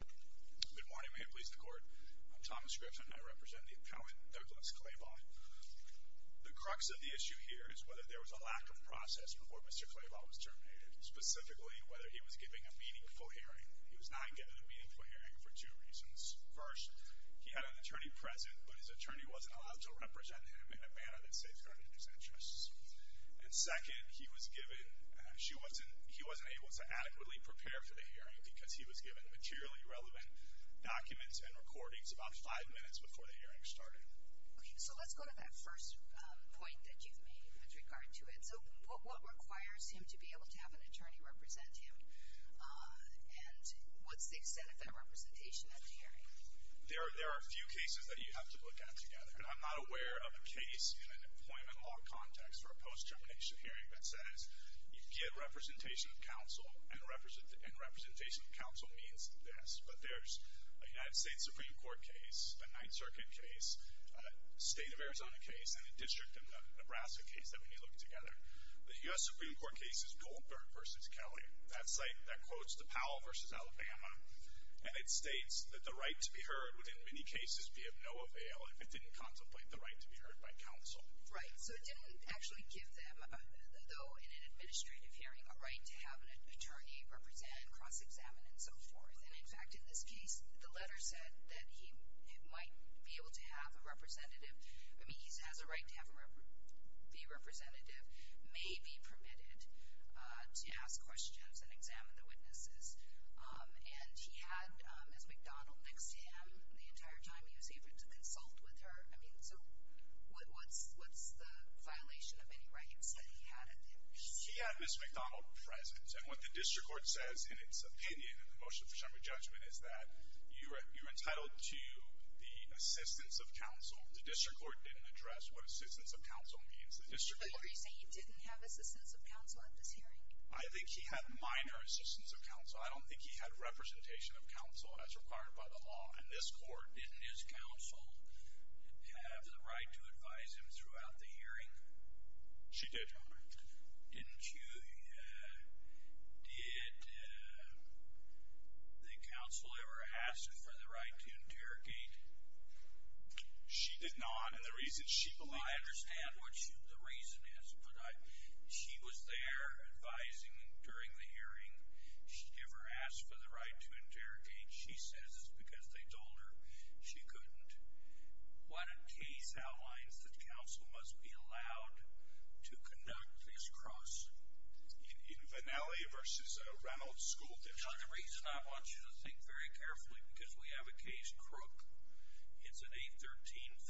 Good morning, Mayor and Police Department. I'm Thomas Griffin and I represent the appellant Douglas Clabaugh. The crux of the issue here is whether there was a lack of process before Mr. Clabaugh was terminated. Specifically, whether he was given a meaningful hearing. He was not given a meaningful hearing for two reasons. First, he had an attorney present, but his attorney wasn't allowed to represent him in a manner that safeguarded his interests. And second, he wasn't able to adequately prepare for the hearing because he was given materially relevant documents and recordings about five minutes before the hearing started. Okay, so let's go to that first point that you've made with regard to it. So, what requires him to be able to have an attorney represent him and what's the extent of that representation at the hearing? There are a few cases that you have to look at together. And I'm not aware of a case in an employment law context for a post-termination hearing that says you get representation of counsel and representation of counsel means this. But there's a United States Supreme Court case, a Ninth Circuit case, a state of Arizona case, and a district of Nebraska case that we need to look at together. The U.S. Supreme Court case is Goldberg v. Kelly. That's like, that quotes the Powell v. Alabama. And it states that the right to be heard would in many cases be of no avail if it didn't contemplate the right to be heard by counsel. Right, so it didn't actually give them, though in an administrative hearing, a right to have an attorney represent and cross-examine and so forth. And, in fact, in this case, the letter said that he might be able to have a representative. I mean, he has a right to be a representative, may be permitted to ask questions and examine the witnesses. And he had Ms. McDonald next to him the entire time he was able to consult with her. I mean, so what's the violation of any rights that he had? He had Ms. McDonald present. And what the district court says in its opinion in the motion for summary judgment is that you're entitled to the assistance of counsel. The district court didn't address what assistance of counsel means. But you're saying he didn't have assistance of counsel at this hearing? I think he had minor assistance of counsel. I don't think he had representation of counsel as required by the law. And this court, didn't his counsel have the right to advise him throughout the hearing? She did. Didn't you? Did the counsel ever ask him for the right to interrogate? She did not. And the reason she believed that was not true. I understand what the reason is. But she was there advising him during the hearing. She never asked for the right to interrogate. She says it's because they told her she couldn't. What a case outlines that counsel must be allowed to conduct this cross. In Vannelli v. Reynolds School District. Now, the reason I want you to think very carefully, because we have a case, Crook. It's an 813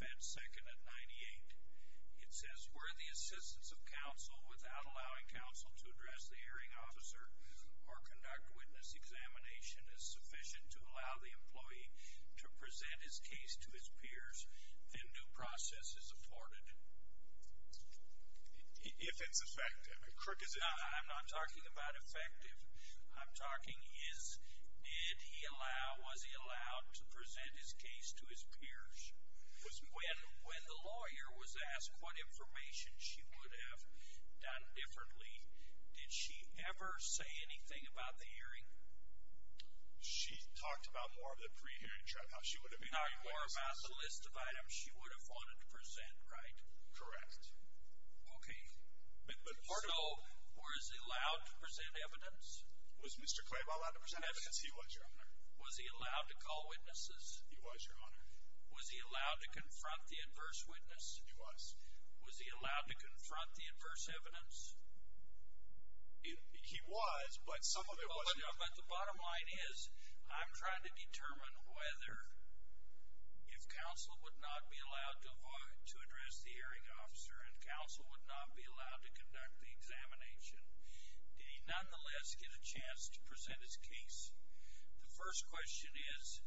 Fed Second at 98. It says where the assistance of counsel, without allowing counsel to address the hearing officer or conduct witness examination, is sufficient to allow the employee to present his case to his peers, then new process is afforded. If it's effective. And, Crook, is it? I'm not talking about effective. I'm talking is, did he allow, was he allowed to present his case to his peers? When the lawyer was asked what information she would have done differently, did she ever say anything about the hearing? She talked about more of the pre-hearing. She talked more about the list of items she would have wanted to present, right? Correct. Okay. So, was he allowed to present evidence? Was Mr. Claiborne allowed to present evidence? He was, Your Honor. Was he allowed to call witnesses? He was, Your Honor. Was he allowed to confront the adverse witness? He was. Was he allowed to confront the adverse evidence? He was, but some of it wasn't. But the bottom line is, I'm trying to determine whether, if counsel would not be allowed to address the hearing officer and counsel would not be allowed to conduct the examination, did he nonetheless get a chance to present his case? The first question is,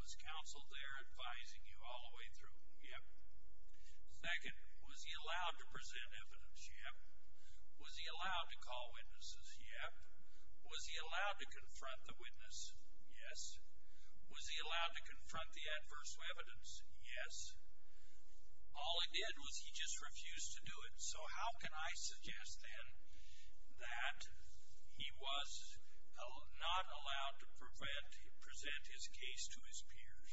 was counsel there advising you all the way through? Yep. Second, was he allowed to present evidence? Yep. Was he allowed to call witnesses? Yep. Was he allowed to confront the witness? Yes. Was he allowed to confront the adverse evidence? Yes. All he did was he just refused to do it. So how can I suggest, then, that he was not allowed to present his case to his peers?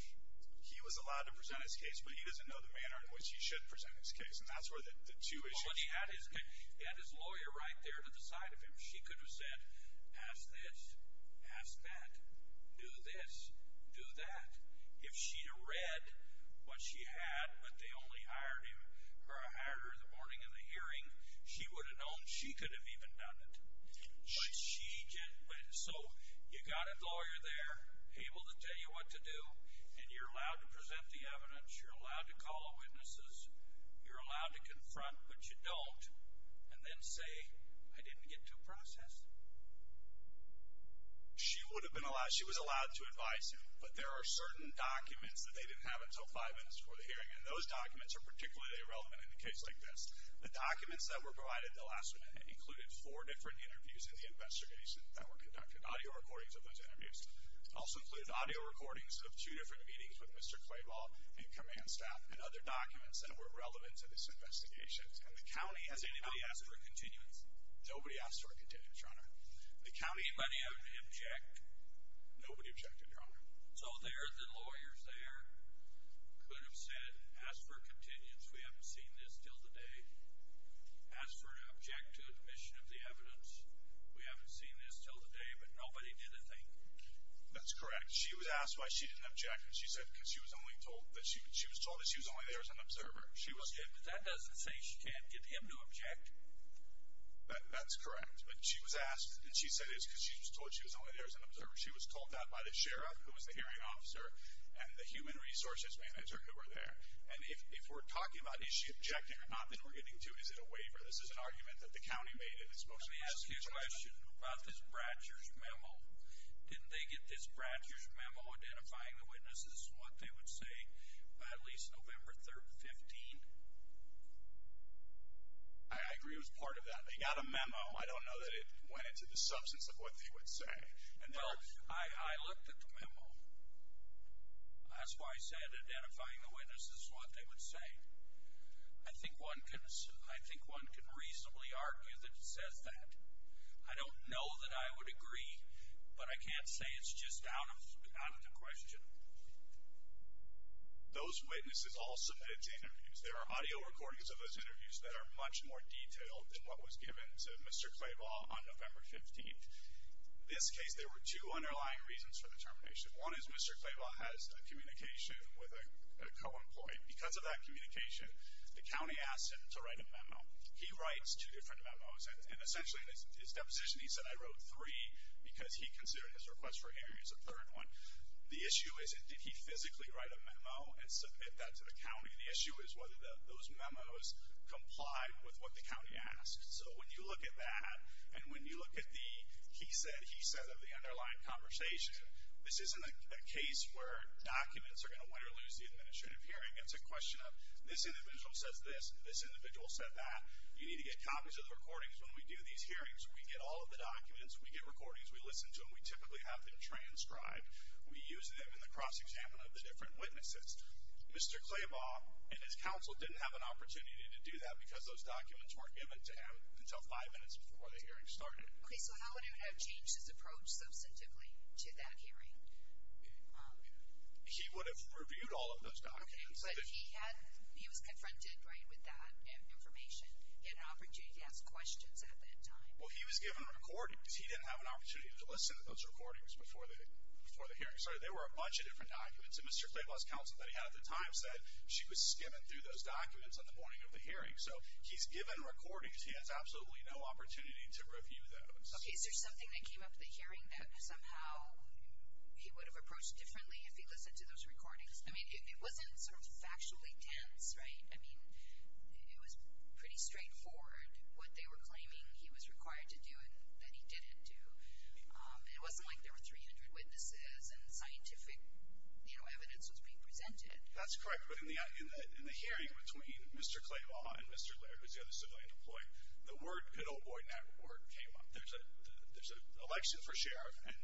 He was allowed to present his case, but he doesn't know the manner in which he should present his case, and that's where the two issues come in. But he had his lawyer right there to the side of him. She could have said, ask this, ask that, do this, do that. If she had read what she had, but they only hired her in the morning of the hearing, she would have known she could have even done it. So you've got a lawyer there able to tell you what to do, and you're allowed to present the evidence, you're allowed to call witnesses, you're allowed to confront, but you don't, and then say, I didn't get to process. She was allowed to advise him, but there are certain documents that they didn't have until five minutes before the hearing, and those documents are particularly irrelevant in a case like this. The documents that were provided the last minute included four different interviews in the investigation that were conducted, audio recordings of those interviews. It also included audio recordings of two different meetings with Mr. Clayball and command staff and other documents that were relevant to this investigation. And the county has anybody ask for a continuance? Nobody asked for a continuance, Your Honor. The county— Anybody object? Nobody objected, Your Honor. So the lawyers there could have said, ask for a continuance. We haven't seen this till today. Ask for an object to admission of the evidence. We haven't seen this till today, but nobody did a thing. That's correct. She was asked why she didn't object, and she said because she was told that she was only there as an observer. But that doesn't say she can't get him to object. That's correct. But she was asked, and she said it was because she was told she was only there as an observer. She was told that by the sheriff, who was the hearing officer, and the human resources manager who were there. And if we're talking about is she objecting or not that we're getting to, is it a waiver? This is an argument that the county made in its most recent hearing. Let me ask you a question about this Bradshers memo. Didn't they get this Bradshers memo identifying the witnesses and what they would say by at least November 3rd, 2015? I agree it was part of that. They got a memo. I don't know that it went into the substance of what they would say. Well, I looked at the memo. That's why I said identifying the witnesses and what they would say. I think one can reasonably argue that it says that. I don't know that I would agree, but I can't say it's just out of the question. Those witnesses all submitted to interviews. There are audio recordings of those interviews that are much more detailed than what was given to Mr. Claybaugh on November 15th. In this case, there were two underlying reasons for the termination. One is Mr. Claybaugh has a communication with a co-employee. Because of that communication, the county asked him to write a memo. He writes two different memos, and essentially in his deposition he said, I wrote three because he considered his request for hearing as a third one. The issue isn't did he physically write a memo and submit that to the county. The issue is whether those memos complied with what the county asked. So when you look at that and when you look at the he said, he said of the underlying conversation, this isn't a case where documents are going to win or lose the administrative hearing. It's a question of this individual says this, this individual said that. You need to get copies of the recordings when we do these hearings. We get all of the documents. We get recordings. We listen to them. We typically have them transcribed. We use them in the cross-examination of the different witnesses. Mr. Claybaugh and his council didn't have an opportunity to do that because those documents weren't given to him until five minutes before the hearing started. Okay, so how would he have changed his approach substantively to that hearing? He would have reviewed all of those documents. Okay, but he was confronted, right, with that information. He had an opportunity to ask questions at that time. Well, he was given recordings. He didn't have an opportunity to listen to those recordings before the hearing started. They were a bunch of different documents, and Mr. Claybaugh's council buddy at the time said she was skimming through those documents at the morning of the hearing. So he's given recordings. He has absolutely no opportunity to review those. Okay, is there something that came up at the hearing that somehow he would have approached differently if he listened to those recordings? I mean, it wasn't sort of factually tense, right? I mean, it was pretty straightforward what they were claiming he was required to do and that he didn't do. It wasn't like there were 300 witnesses and scientific, you know, evidence was being presented. That's correct, but in the hearing between Mr. Claybaugh and Mr. Laird, who's the other civilian employee, the word good old boy network came up. There's an election for sheriff, and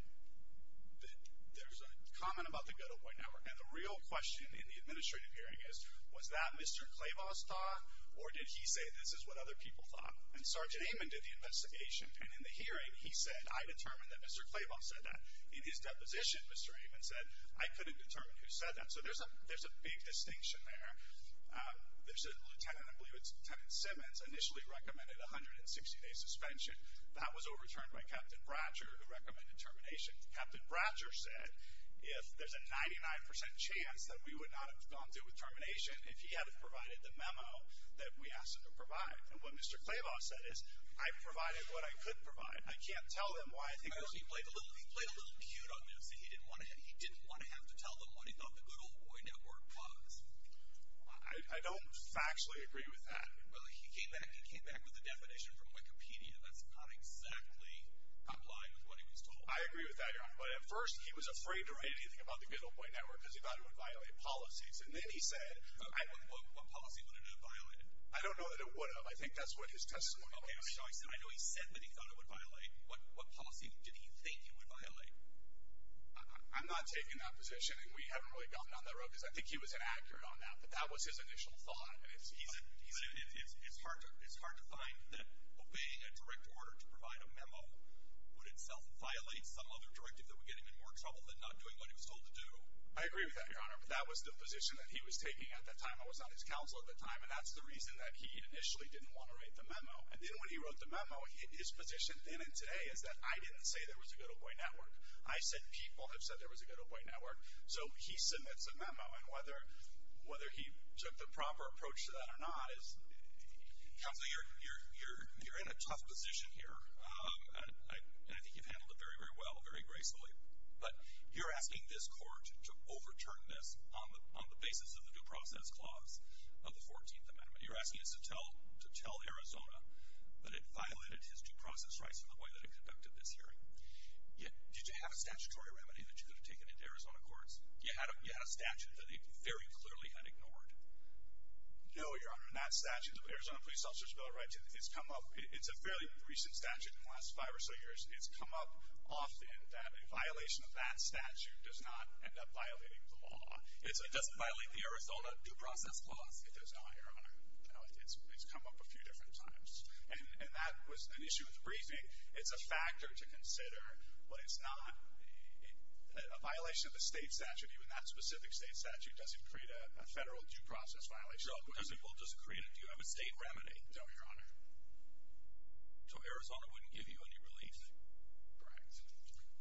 there's a comment about the good old boy network, and the real question in the administrative hearing is, was that Mr. Claybaugh's thought, or did he say this is what other people thought? And Sergeant Amon did the investigation, and in the hearing he said, I determined that Mr. Claybaugh said that. In his deposition, Mr. Amon said, I couldn't determine who said that. So there's a big distinction there. There's a lieutenant, I believe it's Lieutenant Simmons, initially recommended a 160-day suspension. That was overturned by Captain Bratcher, who recommended termination. Captain Bratcher said, if there's a 99% chance that we would not have gone through with termination if he hadn't provided the memo that we asked him to provide. And what Mr. Claybaugh said is, I provided what I could provide. I can't tell him why I think that. Well, he played a little cute on this. He didn't want to have to tell them what he thought the good old boy network was. I don't factually agree with that. Well, he came back with a definition from Wikipedia. That's not exactly in line with what he was told. I agree with that, Your Honor. But at first he was afraid to write anything about the good old boy network because he thought it would violate policies. And then he said— What policy would it have violated? I don't know that it would have. I think that's what his testimony was showing. I know he said that he thought it would violate. What policy did he think it would violate? I'm not taking that position, and we haven't really gotten down that road because I think he was inaccurate on that. But that was his initial thought. It's hard to find that obeying a direct order to provide a memo would itself violate some other directive that would get him in more trouble than not doing what he was told to do. I agree with that, Your Honor. But that was the position that he was taking at that time. I was on his counsel at that time, and that's the reason that he initially didn't want to write the memo. And then when he wrote the memo, his position then and today is that I didn't say there was a good old boy network. I said people have said there was a good old boy network. So he submits a memo, and whether he took the proper approach to that or not is— Counsel, you're in a tough position here, and I think you've handled it very, very well, very gracefully. But you're asking this court to overturn this on the basis of the due process clause of the 14th Amendment. You're asking us to tell Arizona that it violated his due process rights in the way that it conducted this hearing. Did you have a statutory remedy that you could have taken into Arizona courts? You had a statute that they very clearly had ignored. No, Your Honor, and that statute, the Arizona Police Officer's Bill of Rights, it's a fairly recent statute in the last five or so years. It's come up often that a violation of that statute does not end up violating the law. It doesn't violate the Arizona due process clause. It does not, Your Honor. It's come up a few different times. And that was an issue with the briefing. It's a factor to consider, but it's not— a violation of a state statute, even that specific state statute, doesn't create a federal due process violation. No, because it will just create a—do you have a state remedy? No, Your Honor. So Arizona wouldn't give you any relief? Correct.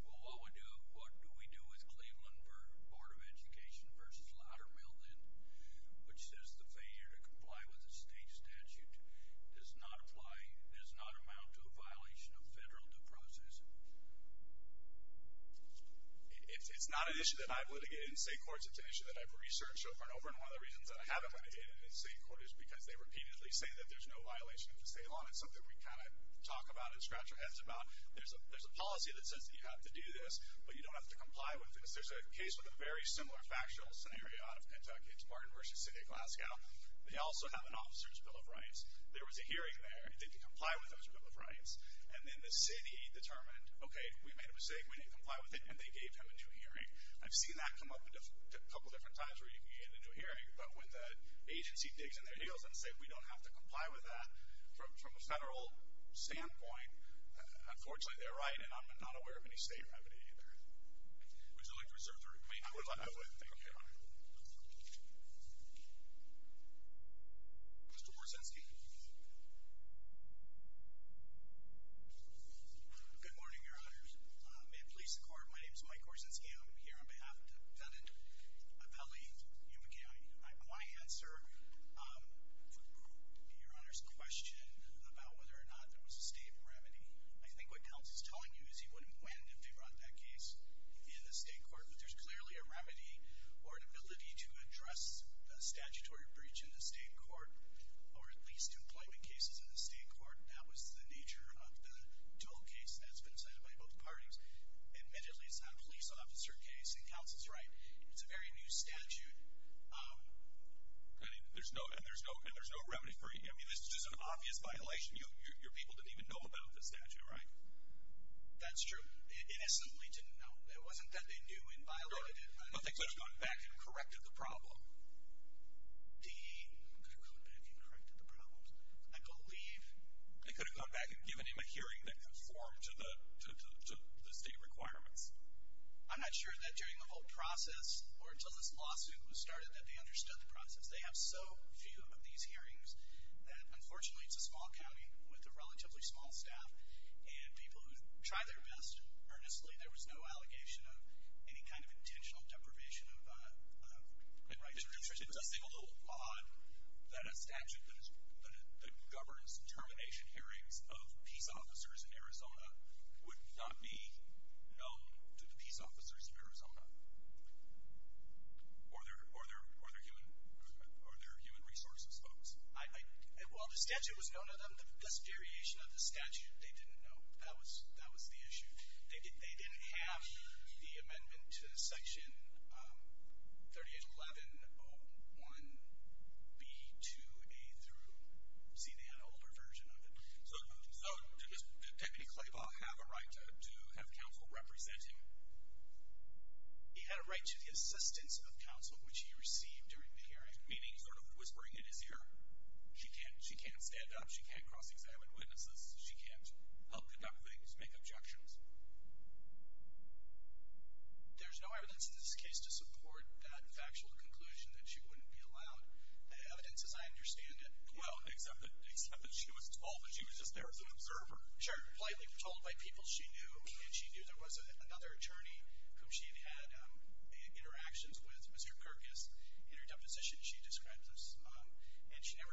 Well, what do we do with Cleveland Board of Education v. Loudermill, then, which says the failure to comply with a state statute does not apply— does not amount to a violation of federal due process? It's not an issue that I've litigated in state courts. It's an issue that I've researched over and over, and one of the reasons that I haven't litigated it in state court is because they repeatedly say that there's no violation of the state law, and it's something we kind of talk about and scratch our heads about. There's a policy that says that you have to do this, but you don't have to comply with it. There's a case with a very similar factual scenario out of Kentucky. It's Martin v. City of Glasgow. They also have an officer's Bill of Rights. There was a hearing there. They could comply with those Bill of Rights, and then the city determined, okay, we made a mistake. We didn't comply with it, and they gave him a new hearing. I've seen that come up a couple different times where you can get a new hearing, but when the agency digs in their heels and says, we don't have to comply with that from a federal standpoint, unfortunately they're right, and I'm not aware of any state remedy either. Would you like to reserve the remaining time? I would. Thank you, Your Honor. Mr. Korczenski. Good morning, Your Honors. At police court, my name is Mike Korczenski. I'm here on behalf of the defendant of L.E. Yuma County. I want to answer Your Honor's question about whether or not there was a state remedy. I think what Counsel's telling you is he wouldn't have wanted to figure out that case in the state court, but there's clearly a remedy or an ability to address a statutory breach in the state court or at least two climate cases in the state court. That was the nature of the Dole case that's been decided by both parties. Admittedly, it's not a police officer case, and Counsel's right. It's a very new statute, and there's no remedy for it. I mean, this is an obvious violation. Your people didn't even know about the statute, right? That's true. Innocently didn't know. It wasn't that they knew and violated it. But they could have gone back and corrected the problem. They could have gone back and corrected the problem, I believe. They could have gone back and given him a hearing that conformed to the state requirements. I'm not sure that during the whole process or until this lawsuit was started that they understood the process. They have so few of these hearings that, unfortunately, it's a small county with a relatively small staff and people who try their best earnestly. There was no allegation of any kind of intentional deprivation of rights. It was a single law that a statute that governs termination hearings of peace officers in Arizona would not be known to the peace officers in Arizona. Or their human resources folks. While the statute was known to them, the variation of the statute, they didn't know. That was the issue. They didn't have the amendment to Section 381101B2A through C, the older version of it. So did Deputy Claiborne have a right to have counsel represent him? He had a right to the assistance of counsel which he received during the hearing, meaning sort of whispering in his ear, she can't stand up, she can't cross-examine witnesses, she can't help conduct things, make objections. There's no evidence in this case to support that factual conclusion that she wouldn't be allowed. The evidence as I understand it. Well, except that she was told that she was just there as an observer. Sure, politely told by people she knew. And she knew there was another attorney whom she had had interactions with, Mr. Kirkus, in her deposition she described this. And she never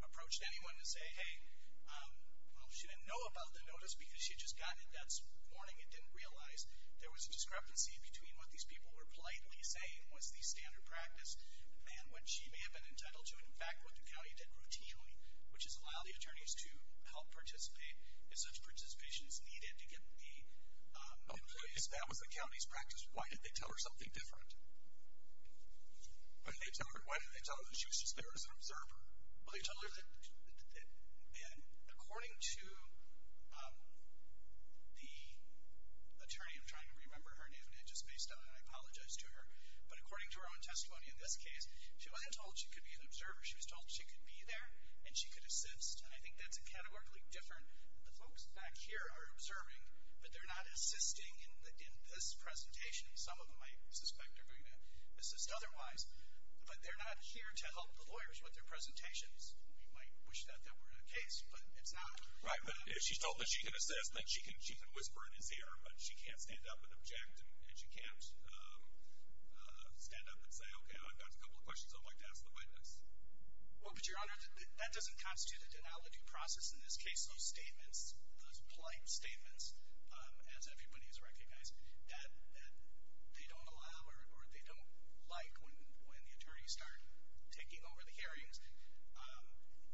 approached anyone to say, hey, well, she didn't know about the notice because she had just gotten it that morning and didn't realize there was a discrepancy between what these people were politely saying was the standard practice and what she may have been entitled to and, in fact, what the county did routinely, which is allow the attorneys to help participate if such participation is needed to get the employees. That was the county's practice. Why did they tell her something different? Why did they tell her that she was just there as an observer? Well, they told her that, according to the attorney, I'm trying to remember her name, and it just spaced out and I apologize to her, but according to her own testimony in this case, she wasn't told she could be an observer. She was told she could be there and she could assist. And I think that's a categorically different. The folks back here are observing, but they're not assisting in this presentation. Some of them I suspect are going to assist otherwise. But they're not here to help the lawyers with their presentations. We might wish that that were the case, but it's not. Right, but if she's told that she can assist, then she can whisper in his ear, but she can't stand up and object and she can't stand up and say, okay, I've got a couple of questions I'd like to ask the witness. Well, but, Your Honor, that doesn't constitute a denalogy process in this case. Those statements, those polite statements, as everybody has recognized, that they don't allow or they don't like when the attorneys start taking over the hearings.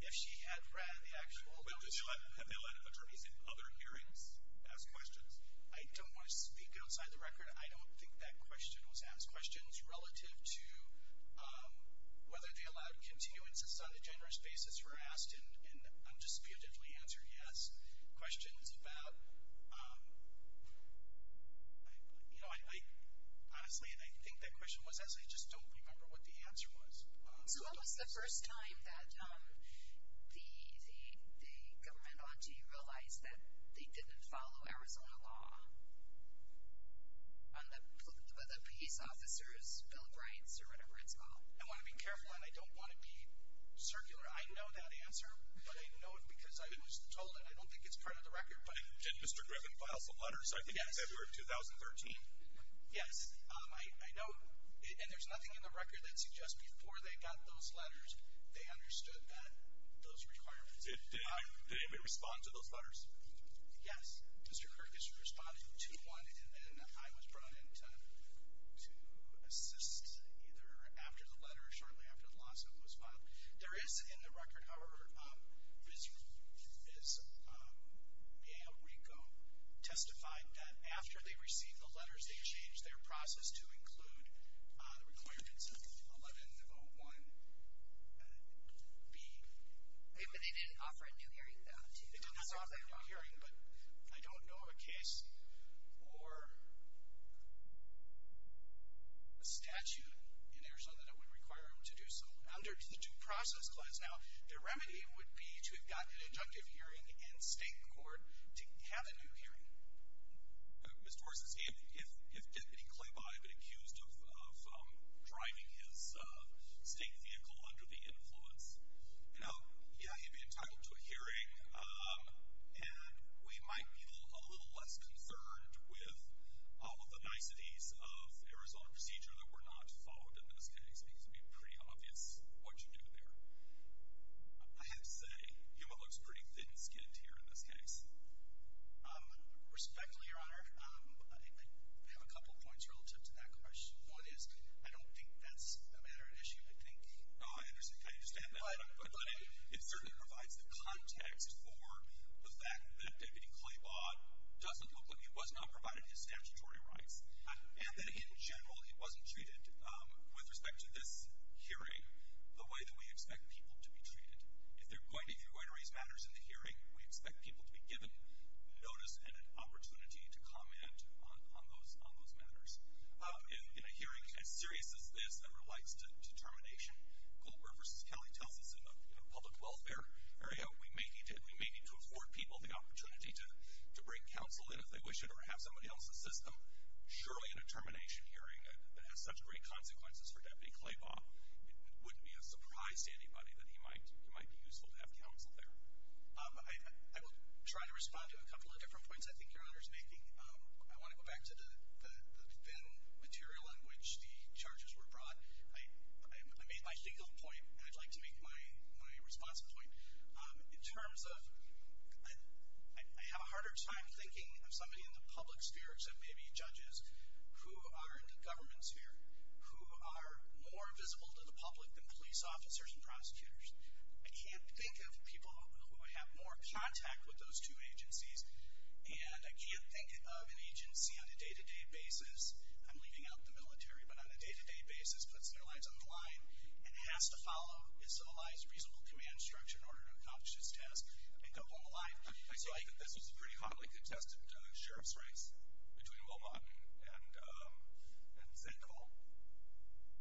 If she had read the actual notice. Have they let attorneys in other hearings ask questions? I don't want to speak outside the record. I don't think that question was asked. Questions relative to whether they allowed continuances on a generous basis were asked and undisputedly answered yes. Questions about, you know, honestly, I think that question was asked. I just don't remember what the answer was. So when was the first time that the governmental entity realized that they didn't follow Arizona law? On the peace officers' bill of rights or whatever it's called? I want to be careful, and I don't want to be circular. I know that answer, but I know it because I was told it. I don't think it's part of the record. Did Mr. Griffin file some letters, I think, in February of 2013? Yes. I know, and there's nothing in the record that suggests before they got those letters, they understood that those requirements apply. Did anybody respond to those letters? Yes. Mr. Kirk has responded to one, and then I was brought in to assist either after the letter or shortly after the lawsuit was filed. There is in the record, however, Viz Rico testified that after they received the letters, they changed their process to include the requirements of 1101B. But they didn't offer a new hearing, though. They did not offer a new hearing, but I don't know of a case or a statute in Arizona that would require them to do so. Under the due process clause now, the remedy would be to have gotten an inductive hearing in state court to have a new hearing. Mr. Orszanski, if Deputy Claybaugh had been accused of driving his state vehicle under the influence, you know, yeah, he'd be entitled to a hearing, and we might be a little less concerned with all of the niceties of Arizona procedure that were not followed in this case, because it would be pretty obvious what you do there. I have to say, Huma looks pretty thin-skinned here in this case. Respectfully, Your Honor, I have a couple of points relative to that question. One is I don't think that's a matter of issue. No, I understand that, but it certainly provides the context for the fact that Deputy Claybaugh doesn't look like he was not provided his statutory rights, and that in general he wasn't treated with respect to this hearing the way that we expect people to be treated. If you're going to raise matters in the hearing, we expect people to be given notice and an opportunity to comment on those matters. In a hearing as serious as this that relates to termination, Goldberg v. Kelly tells us in the public welfare area, we may need to afford people the opportunity to bring counsel in if they wish it or have somebody else assist them. Surely in a termination hearing that has such great consequences for Deputy Claybaugh, it wouldn't be a surprise to anybody that he might be useful to have counsel there. I will try to respond to a couple of different points I think Your Honor is making. I want to go back to the thin material in which the charges were brought. I made my single point, and I'd like to make my responsive point. In terms of I have a harder time thinking of somebody in the public sphere, except maybe judges who are in the government sphere, who are more visible to the public than police officers and prosecutors. I can't think of people who have more contact with those two agencies, and I can't think of an agency on a day-to-day basis. I'm leaving out the military, but on a day-to-day basis puts their lives on the line and has to follow a civilized, reasonable command structure in order to accomplish this task and come home alive. So I think this was a pretty hotly contested sheriff's race between Wilmot and Zinkel.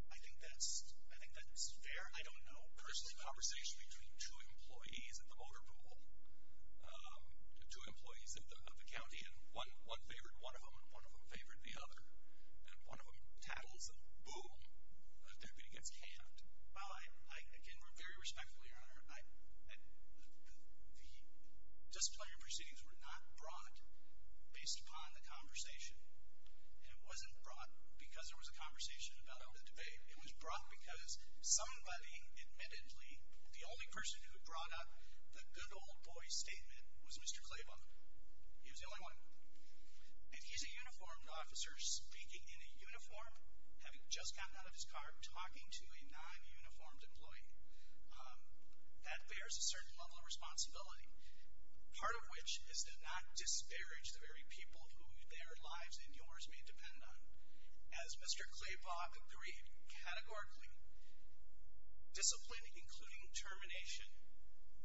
I think that's fair. I don't know. This was a conversation between two employees at the motor pool, two employees of the county, and one favored one of them, and one of them favored the other. And one of them tattles, and boom, the debate gets camped. Well, again, very respectfully, Your Honor, the disciplinary proceedings were not brought based upon the conversation. And it wasn't brought because there was a conversation about it in the debate. It was brought because somebody, admittedly, the only person who brought up the good old boy statement was Mr. Klaybaugh. He was the only one. If he's a uniformed officer speaking in a uniform, having just gotten out of his car, talking to a non-uniformed employee, that bears a certain level of responsibility, part of which is to not disparage the very people who their lives and yours may depend on. As Mr. Klaybaugh agreed, categorically, discipline, including termination,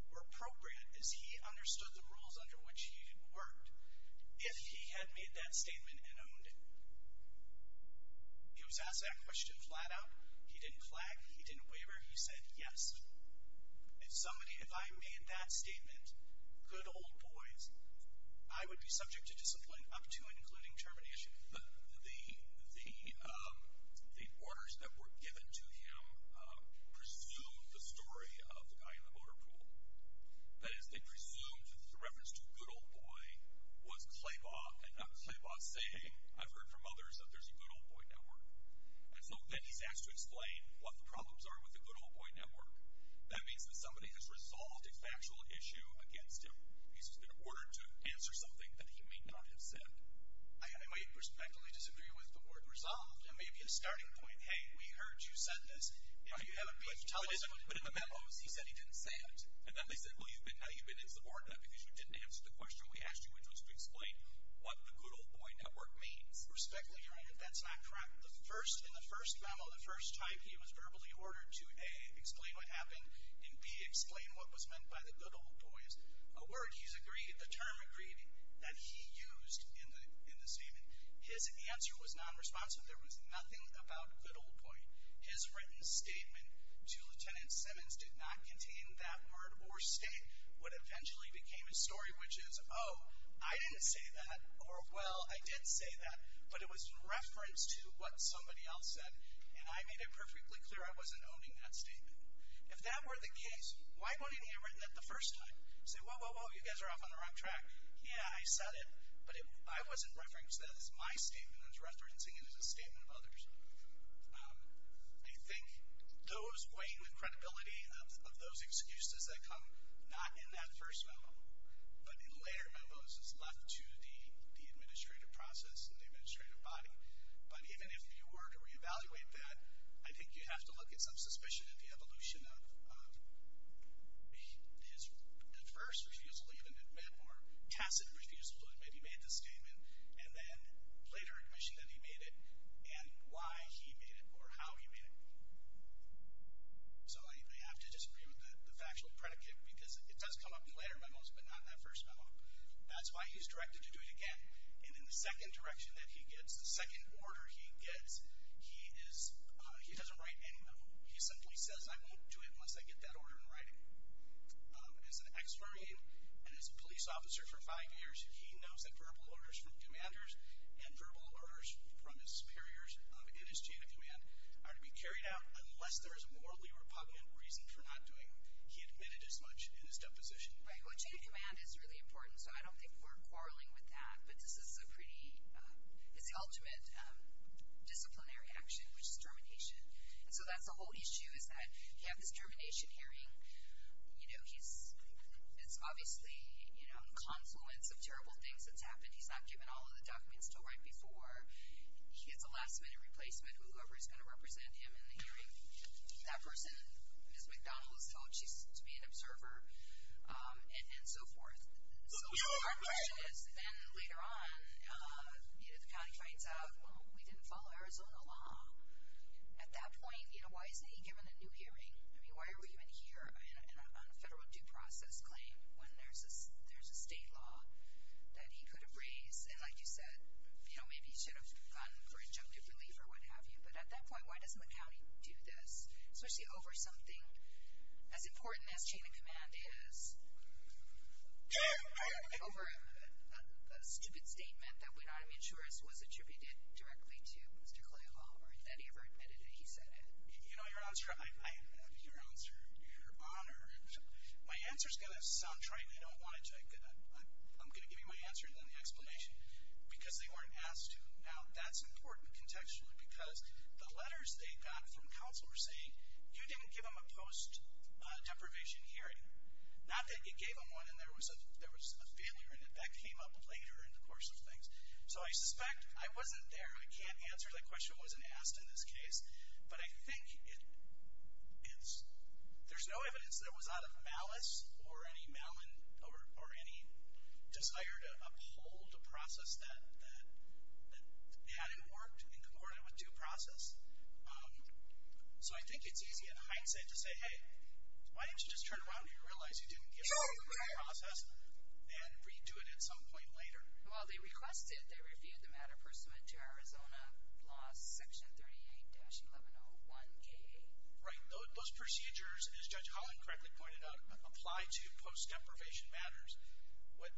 were appropriate as he understood the rules under which he had worked. If he had made that statement and owned it, he was asked that question flat out. He didn't flag. He didn't waver. He said, yes. If somebody, if I made that statement, good old boys, I would be subject to discipline up to and including termination. The orders that were given to him presumed the story of the guy in the motor pool. That is, they presumed the reference to good old boy was Klaybaugh and not Klaybaugh saying, I've heard from others that there's a good old boy network. And so then he's asked to explain what the problems are with the good old boy network. That means that somebody has resolved a factual issue against him. He's been ordered to answer something that he may not have said. I might perspectively disagree with the word resolved. It may be a starting point. Hey, we heard you said this. If you haven't, tell us. But in the memos, he said he didn't say it. And then they said, well, now you've been insubordinate because you didn't answer the question we asked you, which was to explain what the good old boy network means. Perspectively, that's not correct. In the first memo, the first type, he was verbally ordered to A, explain what happened, and B, explain what was meant by the good old boys, a word he's agreed, the term agreed that he used in the statement. His answer was nonresponsive. There was nothing about good old boy. His written statement to Lieutenant Simmons did not contain that word or state. What eventually became his story, which is, oh, I didn't say that, or, well, I did say that, but it was in reference to what somebody else said, and I made it perfectly clear I wasn't owning that statement. If that were the case, why wouldn't he have written that the first time? Say, whoa, whoa, whoa, you guys are off on the wrong track. Yeah, I said it, but I wasn't referencing that as my statement. I was referencing it as a statement of others. I think those weighing the credibility of those excuses that come not in that first memo but in later memos is left to the administrative process and the administrative body. But even if you were to reevaluate that, I think you have to look at some suspicion at the evolution of his at first refusal to even admit or tacit refusal to admit he made the statement and then later admission that he made it and why he made it or how he made it. So I have to disagree with the factual predicate because it does come up in later memos but not in that first memo. That's why he's directed to do it again. And in the second direction that he gets, the second order he gets, he doesn't write any memo. He simply says, I won't do it unless I get that order in writing. As an ex-marine and as a police officer for five years, he knows that verbal orders from commanders and verbal orders from his superiors in his chain of command are to be carried out unless there is a morally repugnant reason for not doing. He admitted as much in his deposition. Well, chain of command is really important, so I don't think we're quarreling with that. But this is a pretty, it's the ultimate disciplinary action, which is termination. And so that's the whole issue is that you have this termination hearing. You know, he's, it's obviously, you know, a confluence of terrible things that's happened. He's not given all of the documents to write before. He gets a last-minute replacement with whoever is going to represent him in the hearing. That person, Ms. McDonald was told she's to be an observer and so forth. So our question is, then later on, you know, the county finds out, well, we didn't follow Arizona law. At that point, you know, why isn't he given a new hearing? I mean, why are we even here on a federal due process claim when there's a state law that he could have raised? And like you said, you know, maybe he should have gone for injunctive relief or what have you. But at that point, why doesn't the county do this? Especially over something as important as chain of command is. Over a stupid statement that would not have been sure as was attributed directly to Mr. Clay Hall. Or that he ever admitted that he said it. You know, your answer, your answer, your honor, my answer's going to sound trite and I don't want it to. I'm going to give you my answer and then the explanation. Because they weren't asked to. Now, that's important contextually because the letters they got from counsel were saying, you didn't give him a post-deprivation hearing. Not that you gave him one and there was a failure in it. That came up later in the course of things. So I suspect, I wasn't there, I can't answer that question, I wasn't asked in this case. But I think it's, there's no evidence that it was out of malice or any desire to uphold a process that hadn't worked in accordance with due process. So I think it's easy in hindsight to say, hey, why didn't you just turn around and realize you didn't give him due process and redo it at some point later. Well, they requested, they reviewed the matter pursuant to Arizona law section 38-1101K. Right, those procedures, as Judge Holland correctly pointed out, apply to post-deprivation matters. What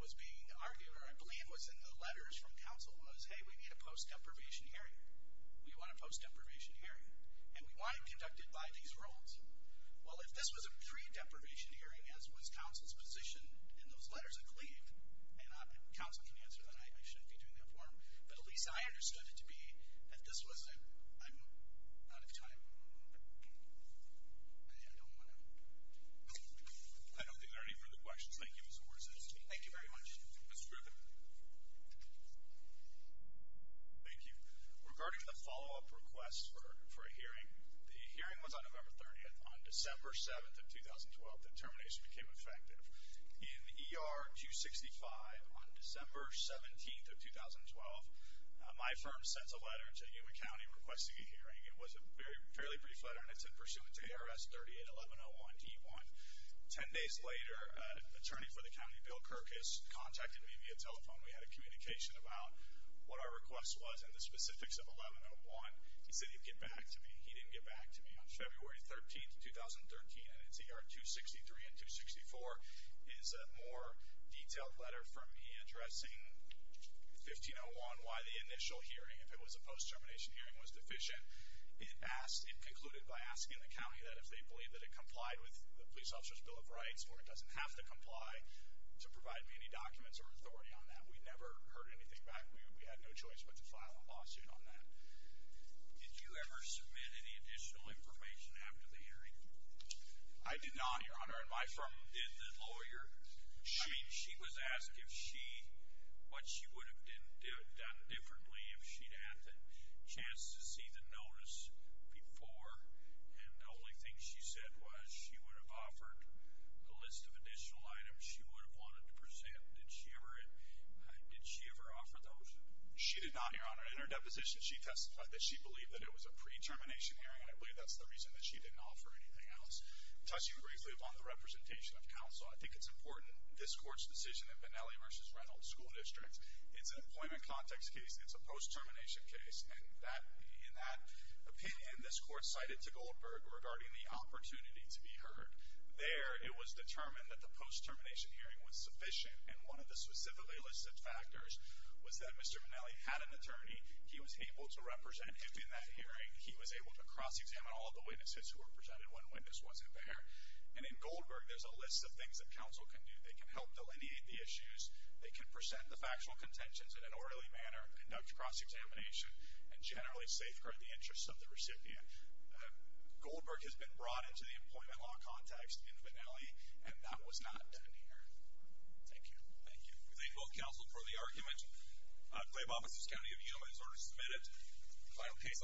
was being argued, or I believe was in the letters from counsel, was, hey, we need a post-deprivation hearing. We want a post-deprivation hearing. And we want it conducted by these rules. Well, if this was a pre-deprivation hearing, as was counsel's position in those letters, I believe, and counsel can answer that, I shouldn't be doing that for him. But at least I understood it to be, if this was a, I'm out of time. I don't want to. I don't think there are any further questions. Thank you, Mr. Morrison. Thank you very much. Mr. Griffin. Thank you. Regarding the follow-up request for a hearing, the hearing was on November 30th. On December 7th of 2012, the determination became effective. In ER 265, on December 17th of 2012, my firm sends a letter to Yuma County requesting a hearing. It was a fairly brief letter, and it's in pursuance of ARS 38-1101-D1. Ten days later, an attorney for the county, Bill Kirkus, contacted me via telephone. We had a communication about what our request was and the specifics of 1101. He said he'd get back to me. He didn't get back to me. On February 13th of 2013, and it's ER 263 and 264, is a more detailed letter from me addressing 1501, why the initial hearing, if it was a post-termination hearing, was deficient. It concluded by asking the county that if they believe that it complied with the police officer's Bill of Rights, or it doesn't have to comply, to provide me any documents or authority on that. We never heard anything back. We had no choice but to file a lawsuit on that. Did you ever submit any additional information after the hearing? I did not, Your Honor, and my firm did the lawyer. I mean, she was asked what she would have done differently if she'd had the chance to see the notice before, and the only thing she said was she would have offered a list of additional items she would have wanted to present. Did she ever offer those? She did not, Your Honor. In her deposition, she testified that she believed that it was a pre-termination hearing, and I believe that's the reason that she didn't offer anything else. Touching briefly upon the representation of counsel, I think it's important, this Court's decision in Benelli v. Reynolds School District, it's an employment context case, it's a post-termination case, and in that opinion, this Court cited to Goldberg regarding the opportunity to be heard. There, it was determined that the post-termination hearing was sufficient, and one of the specifically listed factors was that Mr. Benelli had an attorney. He was able to represent him in that hearing. He was able to cross-examine all of the witnesses who were presented when witness wasn't there, and in Goldberg, there's a list of things that counsel can do. They can help delineate the issues. They can present the factual contentions in an orderly manner, conduct cross-examination, and generally safeguard the interests of the recipient. Goldberg has been brought into the employment law context in Benelli, and that was not done here. Thank you. Thank you. We thank both counsel for the argument. Claiborne, Mississippi County Appeal, in order to submit it.